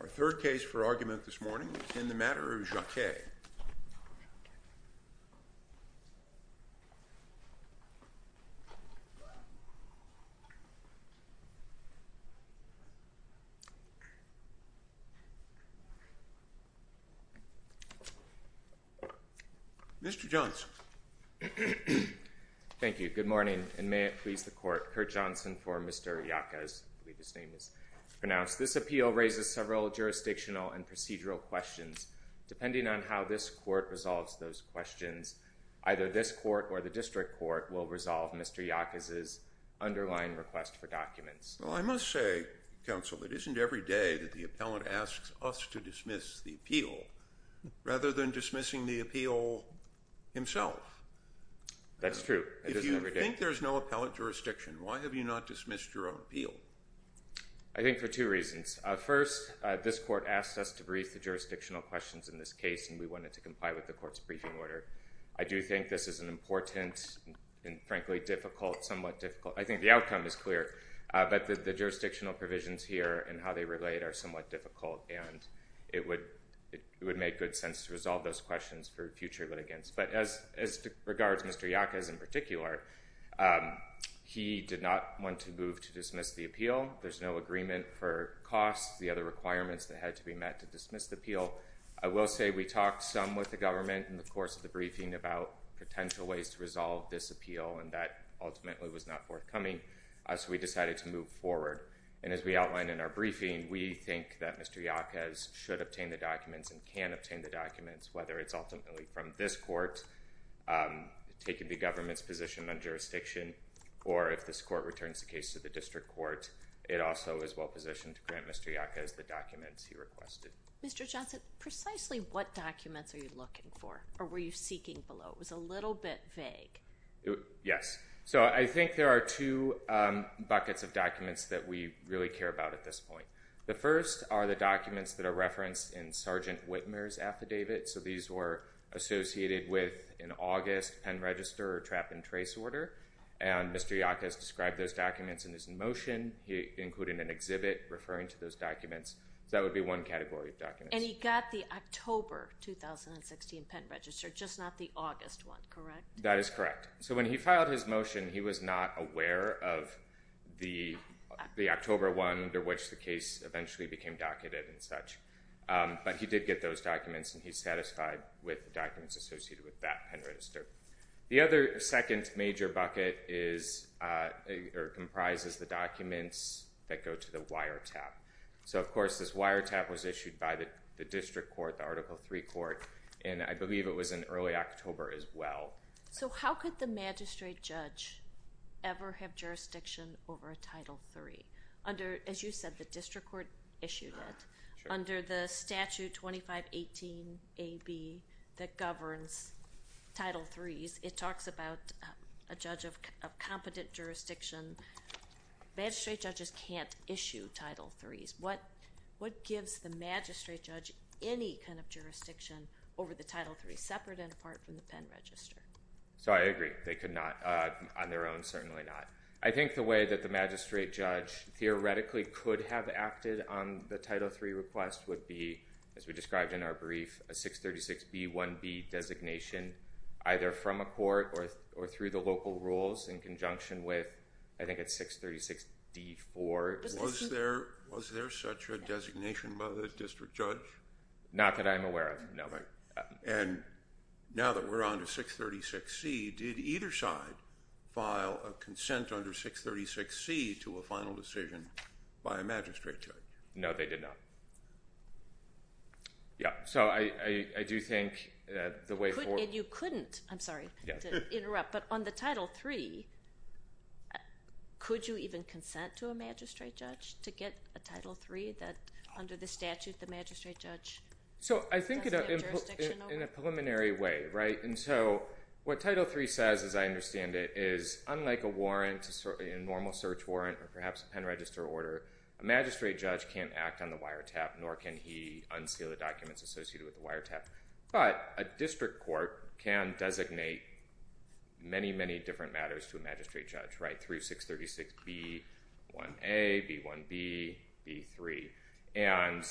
Our third case for argument this morning is in the matter of Jaquez. This appeal raises several jurisdictional and procedural questions, depending on how this court resolves those questions. Either this court or the district court will resolve Mr. Jaquez's underlying request for documents. Well, I must say, counsel, it isn't every day that the appellant asks us to dismiss the appeal, rather than dismissing the appeal himself. That's true. It isn't every day. If you think there's no appellant jurisdiction, why have you not dismissed your own appeal? I think for two reasons. First, this court asked us to brief the jurisdictional questions in this case, and we went ahead and wanted to comply with the court's briefing order. I do think this is an important and, frankly, difficult, somewhat difficult. I think the outcome is clear, but the jurisdictional provisions here and how they relate are somewhat difficult, and it would make good sense to resolve those questions for future litigants. But as regards Mr. Jaquez in particular, he did not want to move to dismiss the appeal. There's no agreement for costs, the other requirements that had to be met to dismiss the appeal. I will say we talked some with the government in the course of the briefing about potential ways to resolve this appeal, and that ultimately was not forthcoming, so we decided to move forward. And as we outlined in our briefing, we think that Mr. Jaquez should obtain the documents and can obtain the documents, whether it's ultimately from this court, taking the government's position on jurisdiction, or if this court returns the case to the district court, it also is well-positioned to grant Mr. Jaquez the documents he requested. Mr. Johnson, precisely what documents are you looking for, or were you seeking below? It was a little bit vague. Yes. So, I think there are two buckets of documents that we really care about at this point. The first are the documents that are referenced in Sergeant Whitmer's affidavit, so these were associated with an August pen register trap and trace order, and Mr. Jaquez described those documents in his motion, including an exhibit referring to those documents. So, that would be one category of documents. And he got the October 2016 pen register, just not the August one, correct? That is correct. So, when he filed his motion, he was not aware of the October one under which the case eventually became docketed and such, but he did get those documents and he's satisfied with the documents associated with that pen register. The other second major bucket is, or comprises the documents that go to the wiretap. So, of course, this wiretap was issued by the district court, the Article III court, and I believe it was in early October as well. So, how could the magistrate judge ever have jurisdiction over a Title III under, as you said, the district court issued it, under the statute 2518AB that governs Title III's, it talks about a judge of competent jurisdiction. Magistrate judges can't issue Title III's. What gives the magistrate judge any kind of jurisdiction over the Title III, separate and apart from the pen register? So, I agree. They could not on their own, certainly not. I think the way that the magistrate judge theoretically could have acted on the Title III request would be, as we described in our brief, a 636B1B designation, either from a I think it's 636D4. Was there such a designation by the district judge? Not that I'm aware of, no. And now that we're on to 636C, did either side file a consent under 636C to a final decision by a magistrate judge? No, they did not. Yeah. So, I do think that the way forward... And you couldn't. I'm sorry to interrupt. Yes. But on the Title III, could you even consent to a magistrate judge to get a Title III that under the statute, the magistrate judge doesn't have jurisdiction over? So, I think in a preliminary way, right? And so, what Title III says, as I understand it, is unlike a warrant, a normal search warrant or perhaps a pen register order, a magistrate judge can't act on the wiretap, nor can he unseal the documents associated with the wiretap. But a district court can designate many, many different matters to a magistrate judge, right? Through 636B1A, B1B, B3. And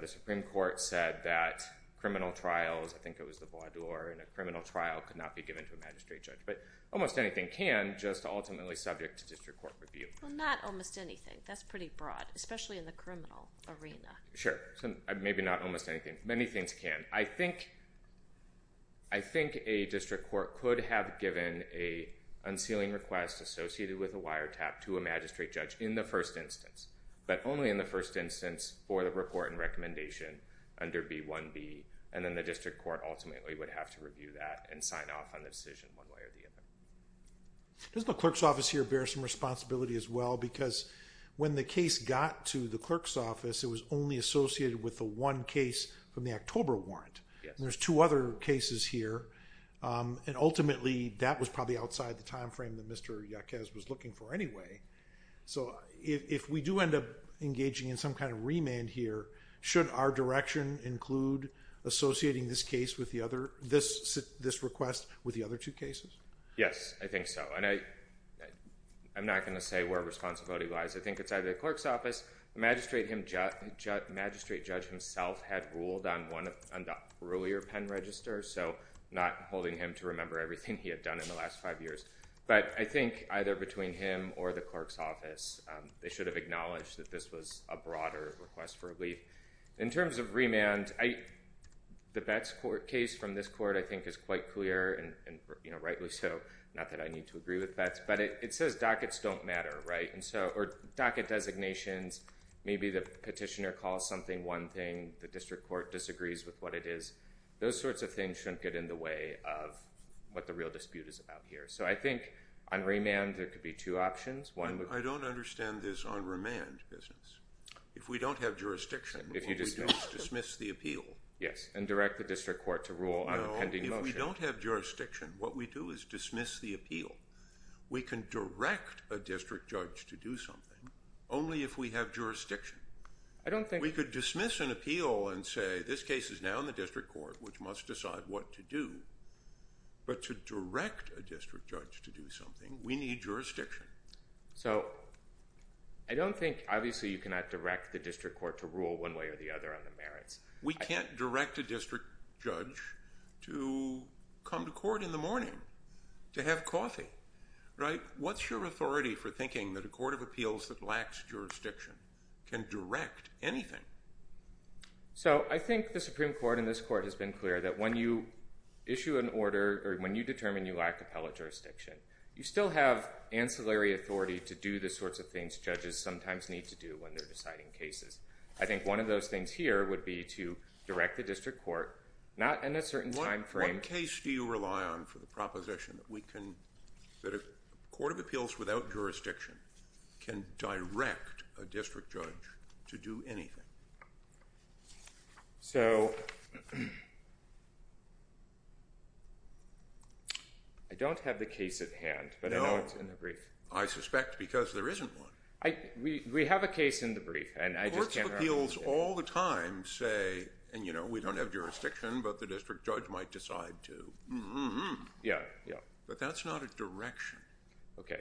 the Supreme Court said that criminal trials, I think it was the Bois d'Or, and a criminal trial could not be given to a magistrate judge. But almost anything can, just ultimately subject to district court review. Well, not almost anything. That's pretty broad, especially in the criminal arena. Sure. So, maybe not almost anything. Many things can. And I think a district court could have given an unsealing request associated with a wiretap to a magistrate judge in the first instance, but only in the first instance for the report and recommendation under B1B. And then the district court ultimately would have to review that and sign off on the decision one way or the other. Does the clerk's office here bear some responsibility as well? Because when the case got to the clerk's office, it was only associated with the one case from the October warrant. Yes. And there's two other cases here, and ultimately that was probably outside the timeframe that Mr. Yaquez was looking for anyway. So if we do end up engaging in some kind of remand here, should our direction include associating this case with the other, this request with the other two cases? Yes, I think so. And I'm not going to say where responsibility lies. I think it's either the clerk's office, the magistrate judge himself had ruled on the earlier pen register, so not holding him to remember everything he had done in the last five years. But I think either between him or the clerk's office, they should have acknowledged that this was a broader request for relief. In terms of remand, the Betz court case from this court I think is quite clear, and rightly so. Not that I need to agree with Betz, but it says dockets don't matter, or docket designations. Maybe the petitioner calls something one thing. The district court disagrees with what it is. Those sorts of things shouldn't get in the way of what the real dispute is about here. So I think on remand there could be two options. I don't understand this on remand business. If we don't have jurisdiction, what we do is dismiss the appeal. Yes, and direct the district court to rule on a pending motion. No, if we don't have jurisdiction, what we do is dismiss the appeal. We can direct a district judge to do something only if we have jurisdiction. We could dismiss an appeal and say this case is now in the district court, which must decide what to do, but to direct a district judge to do something, we need jurisdiction. So I don't think, obviously you cannot direct the district court to rule one way or the other on the merits. We can't direct a district judge to come to court in the morning to have coffee, right? What's your authority for thinking that a court of appeals that lacks jurisdiction can direct anything? So I think the Supreme Court in this court has been clear that when you issue an order or when you determine you lack appellate jurisdiction, you still have ancillary authority to do the sorts of things judges sometimes need to do when they're deciding cases. I think one of those things here would be to direct the district court, not in a certain time frame. What case do you rely on for the proposition that a court of appeals without jurisdiction can direct a district judge to do anything? So I don't have the case at hand, but I know it's in the brief. I suspect because there isn't one. We have a case in the brief, and I just can't remember what it's in. Courts of appeals all the time say, and you know, we don't have jurisdiction, but the district judge has to decide to, but that's not a direction. Okay.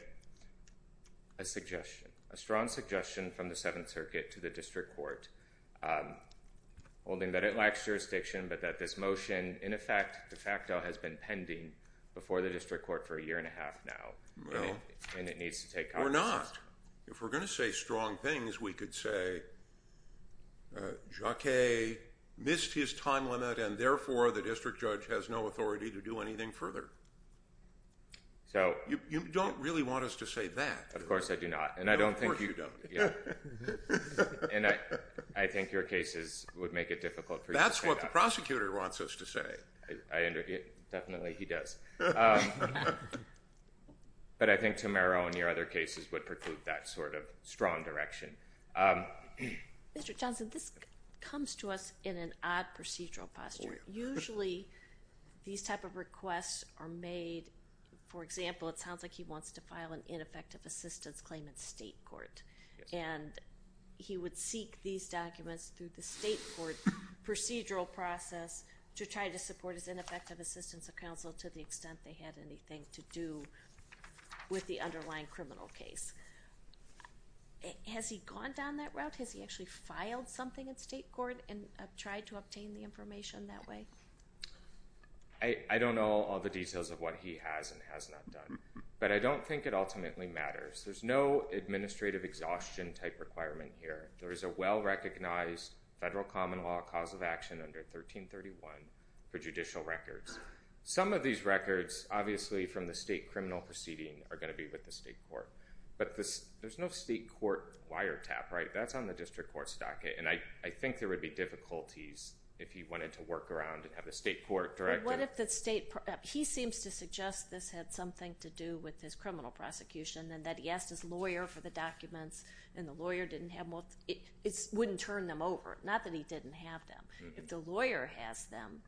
A suggestion. A strong suggestion from the Seventh Circuit to the district court, holding that it lacks jurisdiction, but that this motion, in effect, de facto, has been pending before the district court for a year and a half now, and it needs to take caucuses. Well, we're not. If we're going to say strong things, we could say Jacquet missed his time limit, and therefore the district judge has no authority to do anything further. You don't really want us to say that. Of course I do not. No, of course you don't. I think your cases would make it difficult for you to say that. That's what the prosecutor wants us to say. Definitely, he does. But I think Tamero and your other cases would preclude that sort of strong direction. Mr. Johnson, this comes to us in an odd procedural posture. Usually these type of requests are made, for example, it sounds like he wants to file an ineffective assistance claim in state court, and he would seek these documents through the state court procedural process to try to support his ineffective assistance of counsel to the extent they had anything to do with the underlying criminal case. Has he gone down that route? Has he actually filed something in state court and tried to obtain the information that way? I don't know all the details of what he has and has not done, but I don't think it ultimately matters. There's no administrative exhaustion type requirement here. There is a well-recognized federal common law cause of action under 1331 for judicial records. Some of these records, obviously from the state criminal proceeding, are going to be with the state court. But there's no state court wiretap, right? That's on the district court's docket. And I think there would be difficulties if he wanted to work around and have a state court director. What if the state... He seems to suggest this had something to do with his criminal prosecution and that he asked his lawyer for the documents and the lawyer didn't have them. It wouldn't turn them over, not that he didn't have them. If the lawyer has them,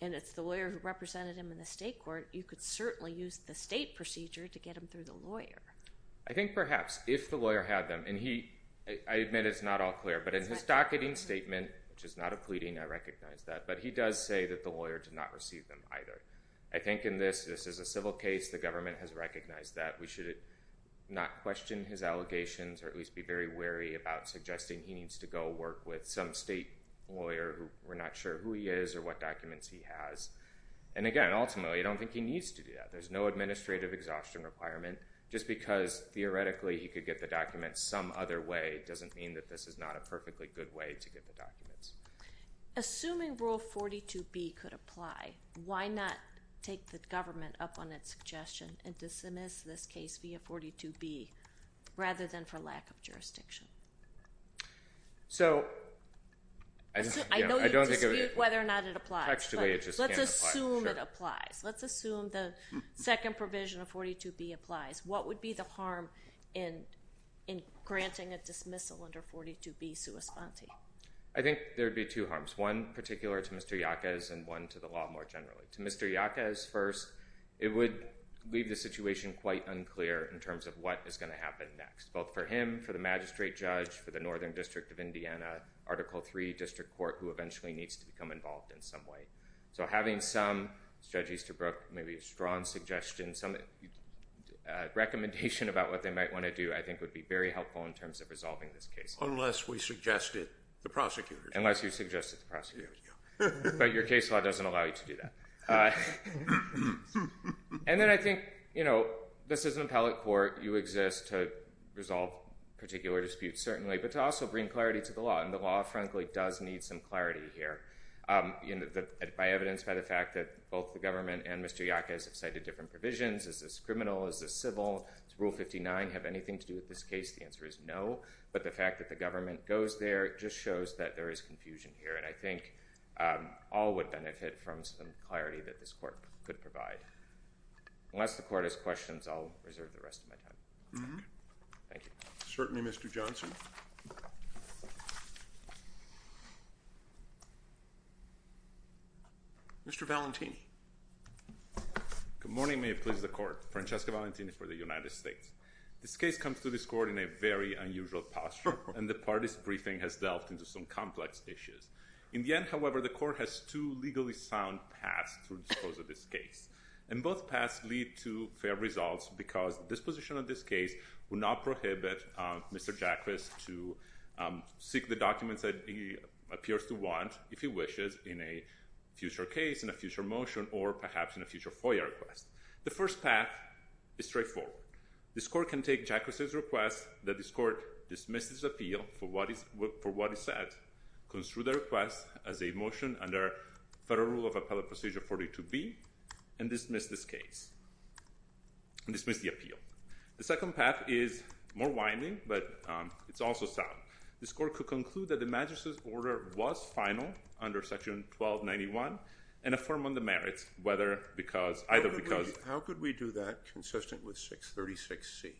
and it's the lawyer who represented him in the state court, you could certainly use the state procedure to get him through the lawyer. I think perhaps if the lawyer had them, and I admit it's not all clear, but in his docketing statement, which is not a pleading, I recognize that, but he does say that the lawyer did not receive them either. I think in this, this is a civil case, the government has recognized that. We should not question his allegations or at least be very wary about suggesting he needs to go work with some state lawyer. We're not sure who he is or what documents he has. And again, ultimately, I don't think he needs to do that. There's no administrative exhaustion requirement. Just because theoretically he could get the documents some other way doesn't mean that this is not a perfectly good way to get the documents. Assuming Rule 42B could apply, why not take the government up on its suggestion and dismiss this case via 42B rather than for lack of jurisdiction? So I don't think... I know you dispute whether or not it applies. Actually, it just can't apply. Let's assume it applies. Sure. Let's assume the second provision of 42B applies. What would be the harm in granting a dismissal under 42B sua sponte? I think there would be two harms. One particular to Mr. Yaquez and one to the law more generally. To Mr. Yaquez first, it would leave the situation quite unclear in terms of what is going to happen next, both for him, for the magistrate judge, for the Northern District of Indiana, for the Article III district court who eventually needs to become involved in some way. So having some, Judge Easterbrook, maybe a strong suggestion, some recommendation about what they might want to do I think would be very helpful in terms of resolving this case. Unless we suggested the prosecutor. Unless you suggested the prosecutor. But your case law doesn't allow you to do that. And then I think, you know, this is an appellate court. You exist to resolve particular disputes, certainly, but to also bring clarity to the law. And the law, frankly, does need some clarity here. You know, by evidence, by the fact that both the government and Mr. Yaquez have cited different provisions. Is this criminal? Is this civil? Does Rule 59 have anything to do with this case? The answer is no. But the fact that the government goes there just shows that there is confusion here. And I think all would benefit from some clarity that this court could provide. Unless the court has questions, I'll reserve the rest of my time. Thank you. Certainly, Mr. Johnson. Mr. Valentini. Good morning. May it please the court. Francesco Valentini for the United States. This case comes to this court in a very unusual posture. And the party's briefing has delved into some complex issues. In the end, however, the court has two legally sound paths to dispose of this case. And both paths lead to fair results because disposition of this case would not prohibit Mr. Yaquez to seek the documents that he appears to want, if he wishes, in a future case, in a future motion, or perhaps in a future FOIA request. The first path is straightforward. This court can take Yaquez's request that this court dismiss his appeal for what he said, construe the request as a motion under Federal Rule of Appellate Procedure 42B, and dismiss this case, and dismiss the appeal. The second path is more winding, but it's also sound. This court could conclude that the magistrate's order was final under Section 1291 and affirm on the merits, whether because, either because— How could we do that consistent with 636C?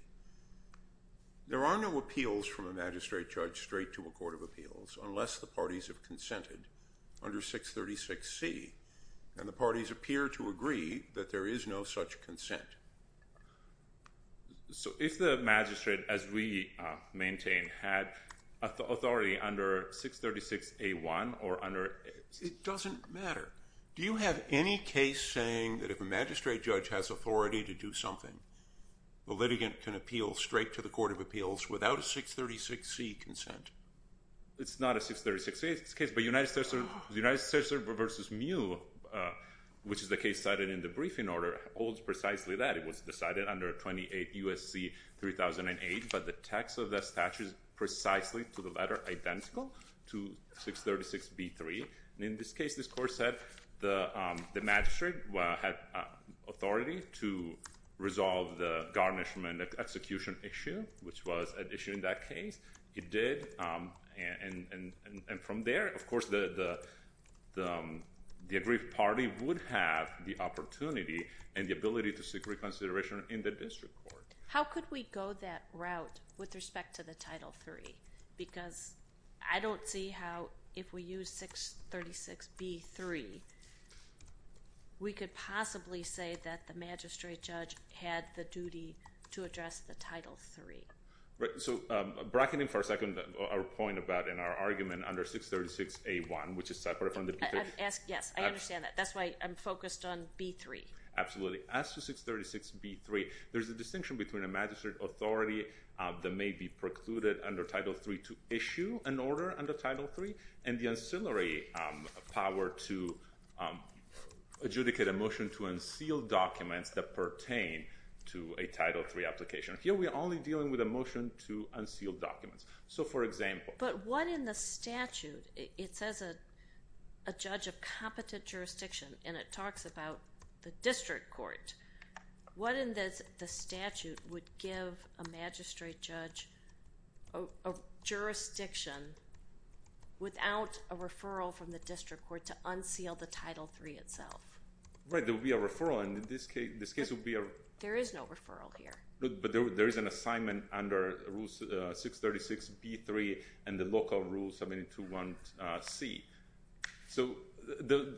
There are no appeals from a magistrate judge straight to a court of appeals, unless the there is no such consent. So if the magistrate, as we maintain, had authority under 636A1 or under— It doesn't matter. Do you have any case saying that if a magistrate judge has authority to do something, the litigant can appeal straight to the court of appeals without a 636C consent? It's not a 636C case. The United States versus Mew, which is the case cited in the briefing order, holds precisely that. It was decided under 28 U.S.C. 3008, but the text of that statute is precisely to the letter identical to 636B3. And in this case, this court said the magistrate had authority to resolve the garnishment execution issue, which was an issue in that case. It did, and from there, of course, the aggrieved party would have the opportunity and the ability to seek reconsideration in the district court. How could we go that route with respect to the Title III? Because I don't see how, if we use 636B3, we could possibly say that the magistrate judge had the duty to address the Title III. So, bracketing for a second our point about and our argument under 636A1, which is separate from the B3. Yes, I understand that. That's why I'm focused on B3. Absolutely. As to 636B3, there's a distinction between a magistrate authority that may be precluded under Title III to issue an order under Title III and the ancillary power to adjudicate a motion to unseal documents that pertain to a Title III application. Here, we're only dealing with a motion to unseal documents. So, for example... But what in the statute, it says a judge of competent jurisdiction, and it talks about the district court. What in the statute would give a magistrate judge a jurisdiction without a referral from the district court to unseal the Title III itself? Right, there would be a referral, and in this case, there would be a... There is no referral here. But there is an assignment under Rule 636B3 and the local Rule 721C. So, the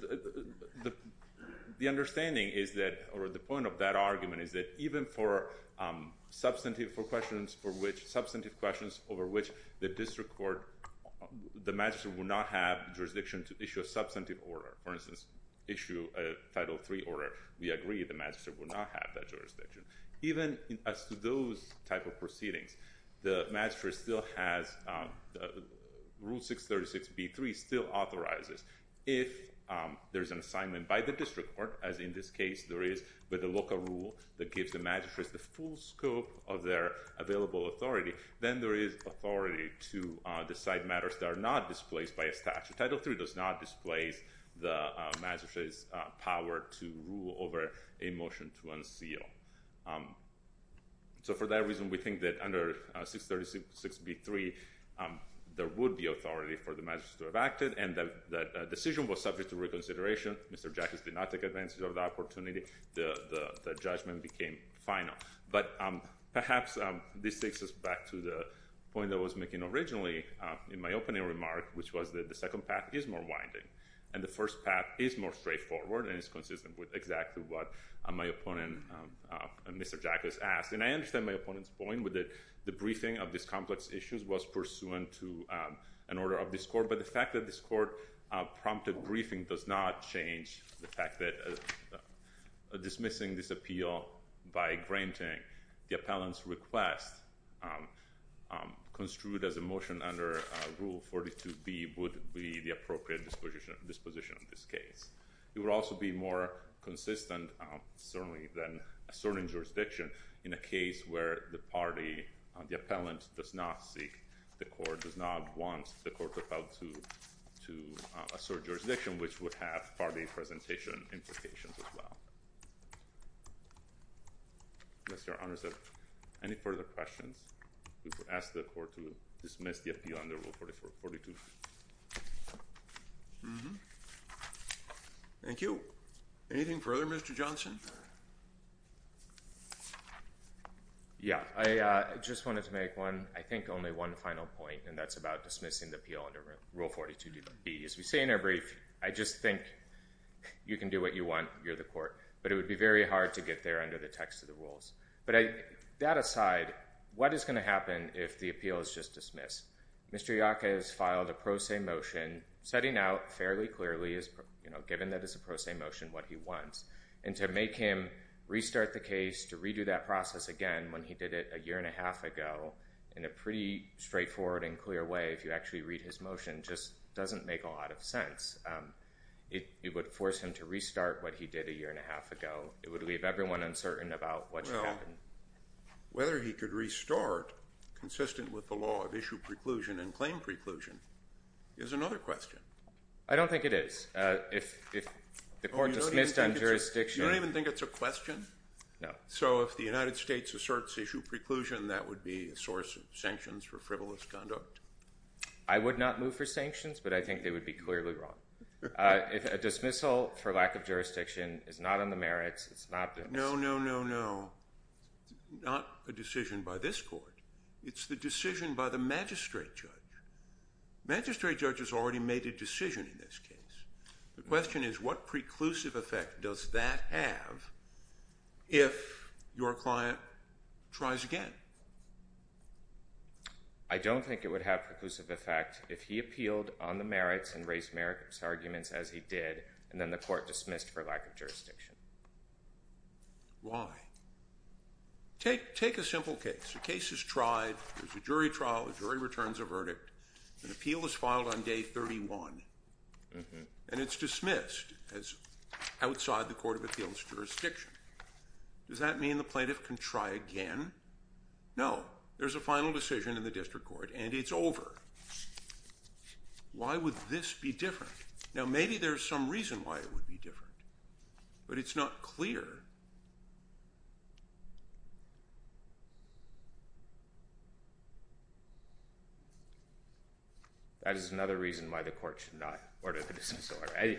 understanding is that, or the point of that argument is that even for substantive questions over which the district court, the magistrate would not have jurisdiction to issue a substantive order. For instance, issue a Title III order. We agree the magistrate would not have that jurisdiction. Even as to those type of proceedings, the magistrate still has... Rule 636B3 still authorizes. If there's an assignment by the district court, as in this case there is with the local rule that gives the magistrates the full scope of their available authority, then there is authority to decide matters that are not displaced by a statute. Title III does not displace the magistrate's power to rule over a motion to unseal. So, for that reason, we think that under 636B3, there would be authority for the magistrate to have acted, and the decision was subject to reconsideration. Mr. Jackson did not take advantage of the opportunity. The judgment became final. But, perhaps, this takes us back to the point I was making originally in my opening remark, which was that the second path is more winding, and the first path is more straightforward, and it's consistent with exactly what my opponent, Mr. Jack, has asked. And I understand my opponent's point, with the briefing of these complex issues was pursuant to an order of this court, but the fact that this court prompted a briefing does not change the fact that dismissing this appeal by granting the appellant's request construed as a motion under Rule 42B would be the appropriate disposition of this case. It would also be more consistent, certainly, than asserting jurisdiction, in a case where the party, the appellant, does not seek, does not want, the court to appeal to assert jurisdiction, which would have party presentation implications as well. Mr. O'Connor, is there any further questions? We will ask the court to dismiss the appeal under Rule 42B. Thank you. Anything further, Mr. Johnson? Yeah, I just wanted to make one, I think only one final point, and that's about dismissing the appeal under Rule 42B. As we say in our brief, I just think you can do what you want, you're the court. But it would be very hard to get there under the text of the rules. But that aside, what is going to happen if the appeal is just dismissed? Mr. Iacca has filed a pro se motion, setting out fairly clearly, given that it's a pro se motion, what he wants. And to make him restart the case, to redo that process again, when he did it a year and a half ago, in a pretty straightforward and clear way, if you actually read his motion, just doesn't make a lot of sense. It would force him to restart what he did a year and a half ago. It would leave everyone uncertain about what should happen. Whether he could restart, consistent with the law of issue preclusion and claim preclusion, is another question. I don't think it is. If the court dismissed on jurisdiction... You don't even think it's a question? No. So if the United States asserts issue preclusion, that would be a source of sanctions for frivolous conduct? I would not move for sanctions, but I think they would be clearly wrong. If a dismissal for lack of jurisdiction is not on the merits, it's not... No, no, no, no. Not a decision by this court. It's the decision by the magistrate judge. The magistrate judge has already made a decision in this case. The question is, what preclusive effect does that have if your client tries again? I don't think it would have preclusive effect if he appealed on the merits and raised merits arguments as he did, and then the court dismissed for lack of jurisdiction. Why? Take a simple case. The case is tried. There's a jury trial. The jury returns a verdict. An appeal is filed on day 31. And it's dismissed as outside the court of appeal's jurisdiction. Does that mean the plaintiff can try again? No. There's a final decision in the district court, and it's over. Why would this be different? Now, maybe there's some reason why it would be different. But it's not clear. That is another reason why the court should not order the dismissal order.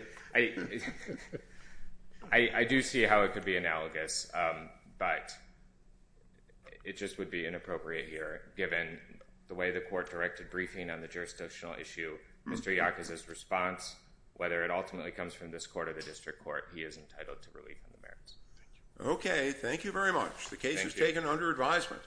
I do see how it could be analogous, but it just would be inappropriate here, given the way the court directed briefing on the jurisdictional issue. Mr. Yarkas' response, whether it ultimately comes from this court or the district court, Thank you. Thank you. Thank you. Thank you. Thank you. Okay, thank you very much. Thank you. The case is taken under advisement.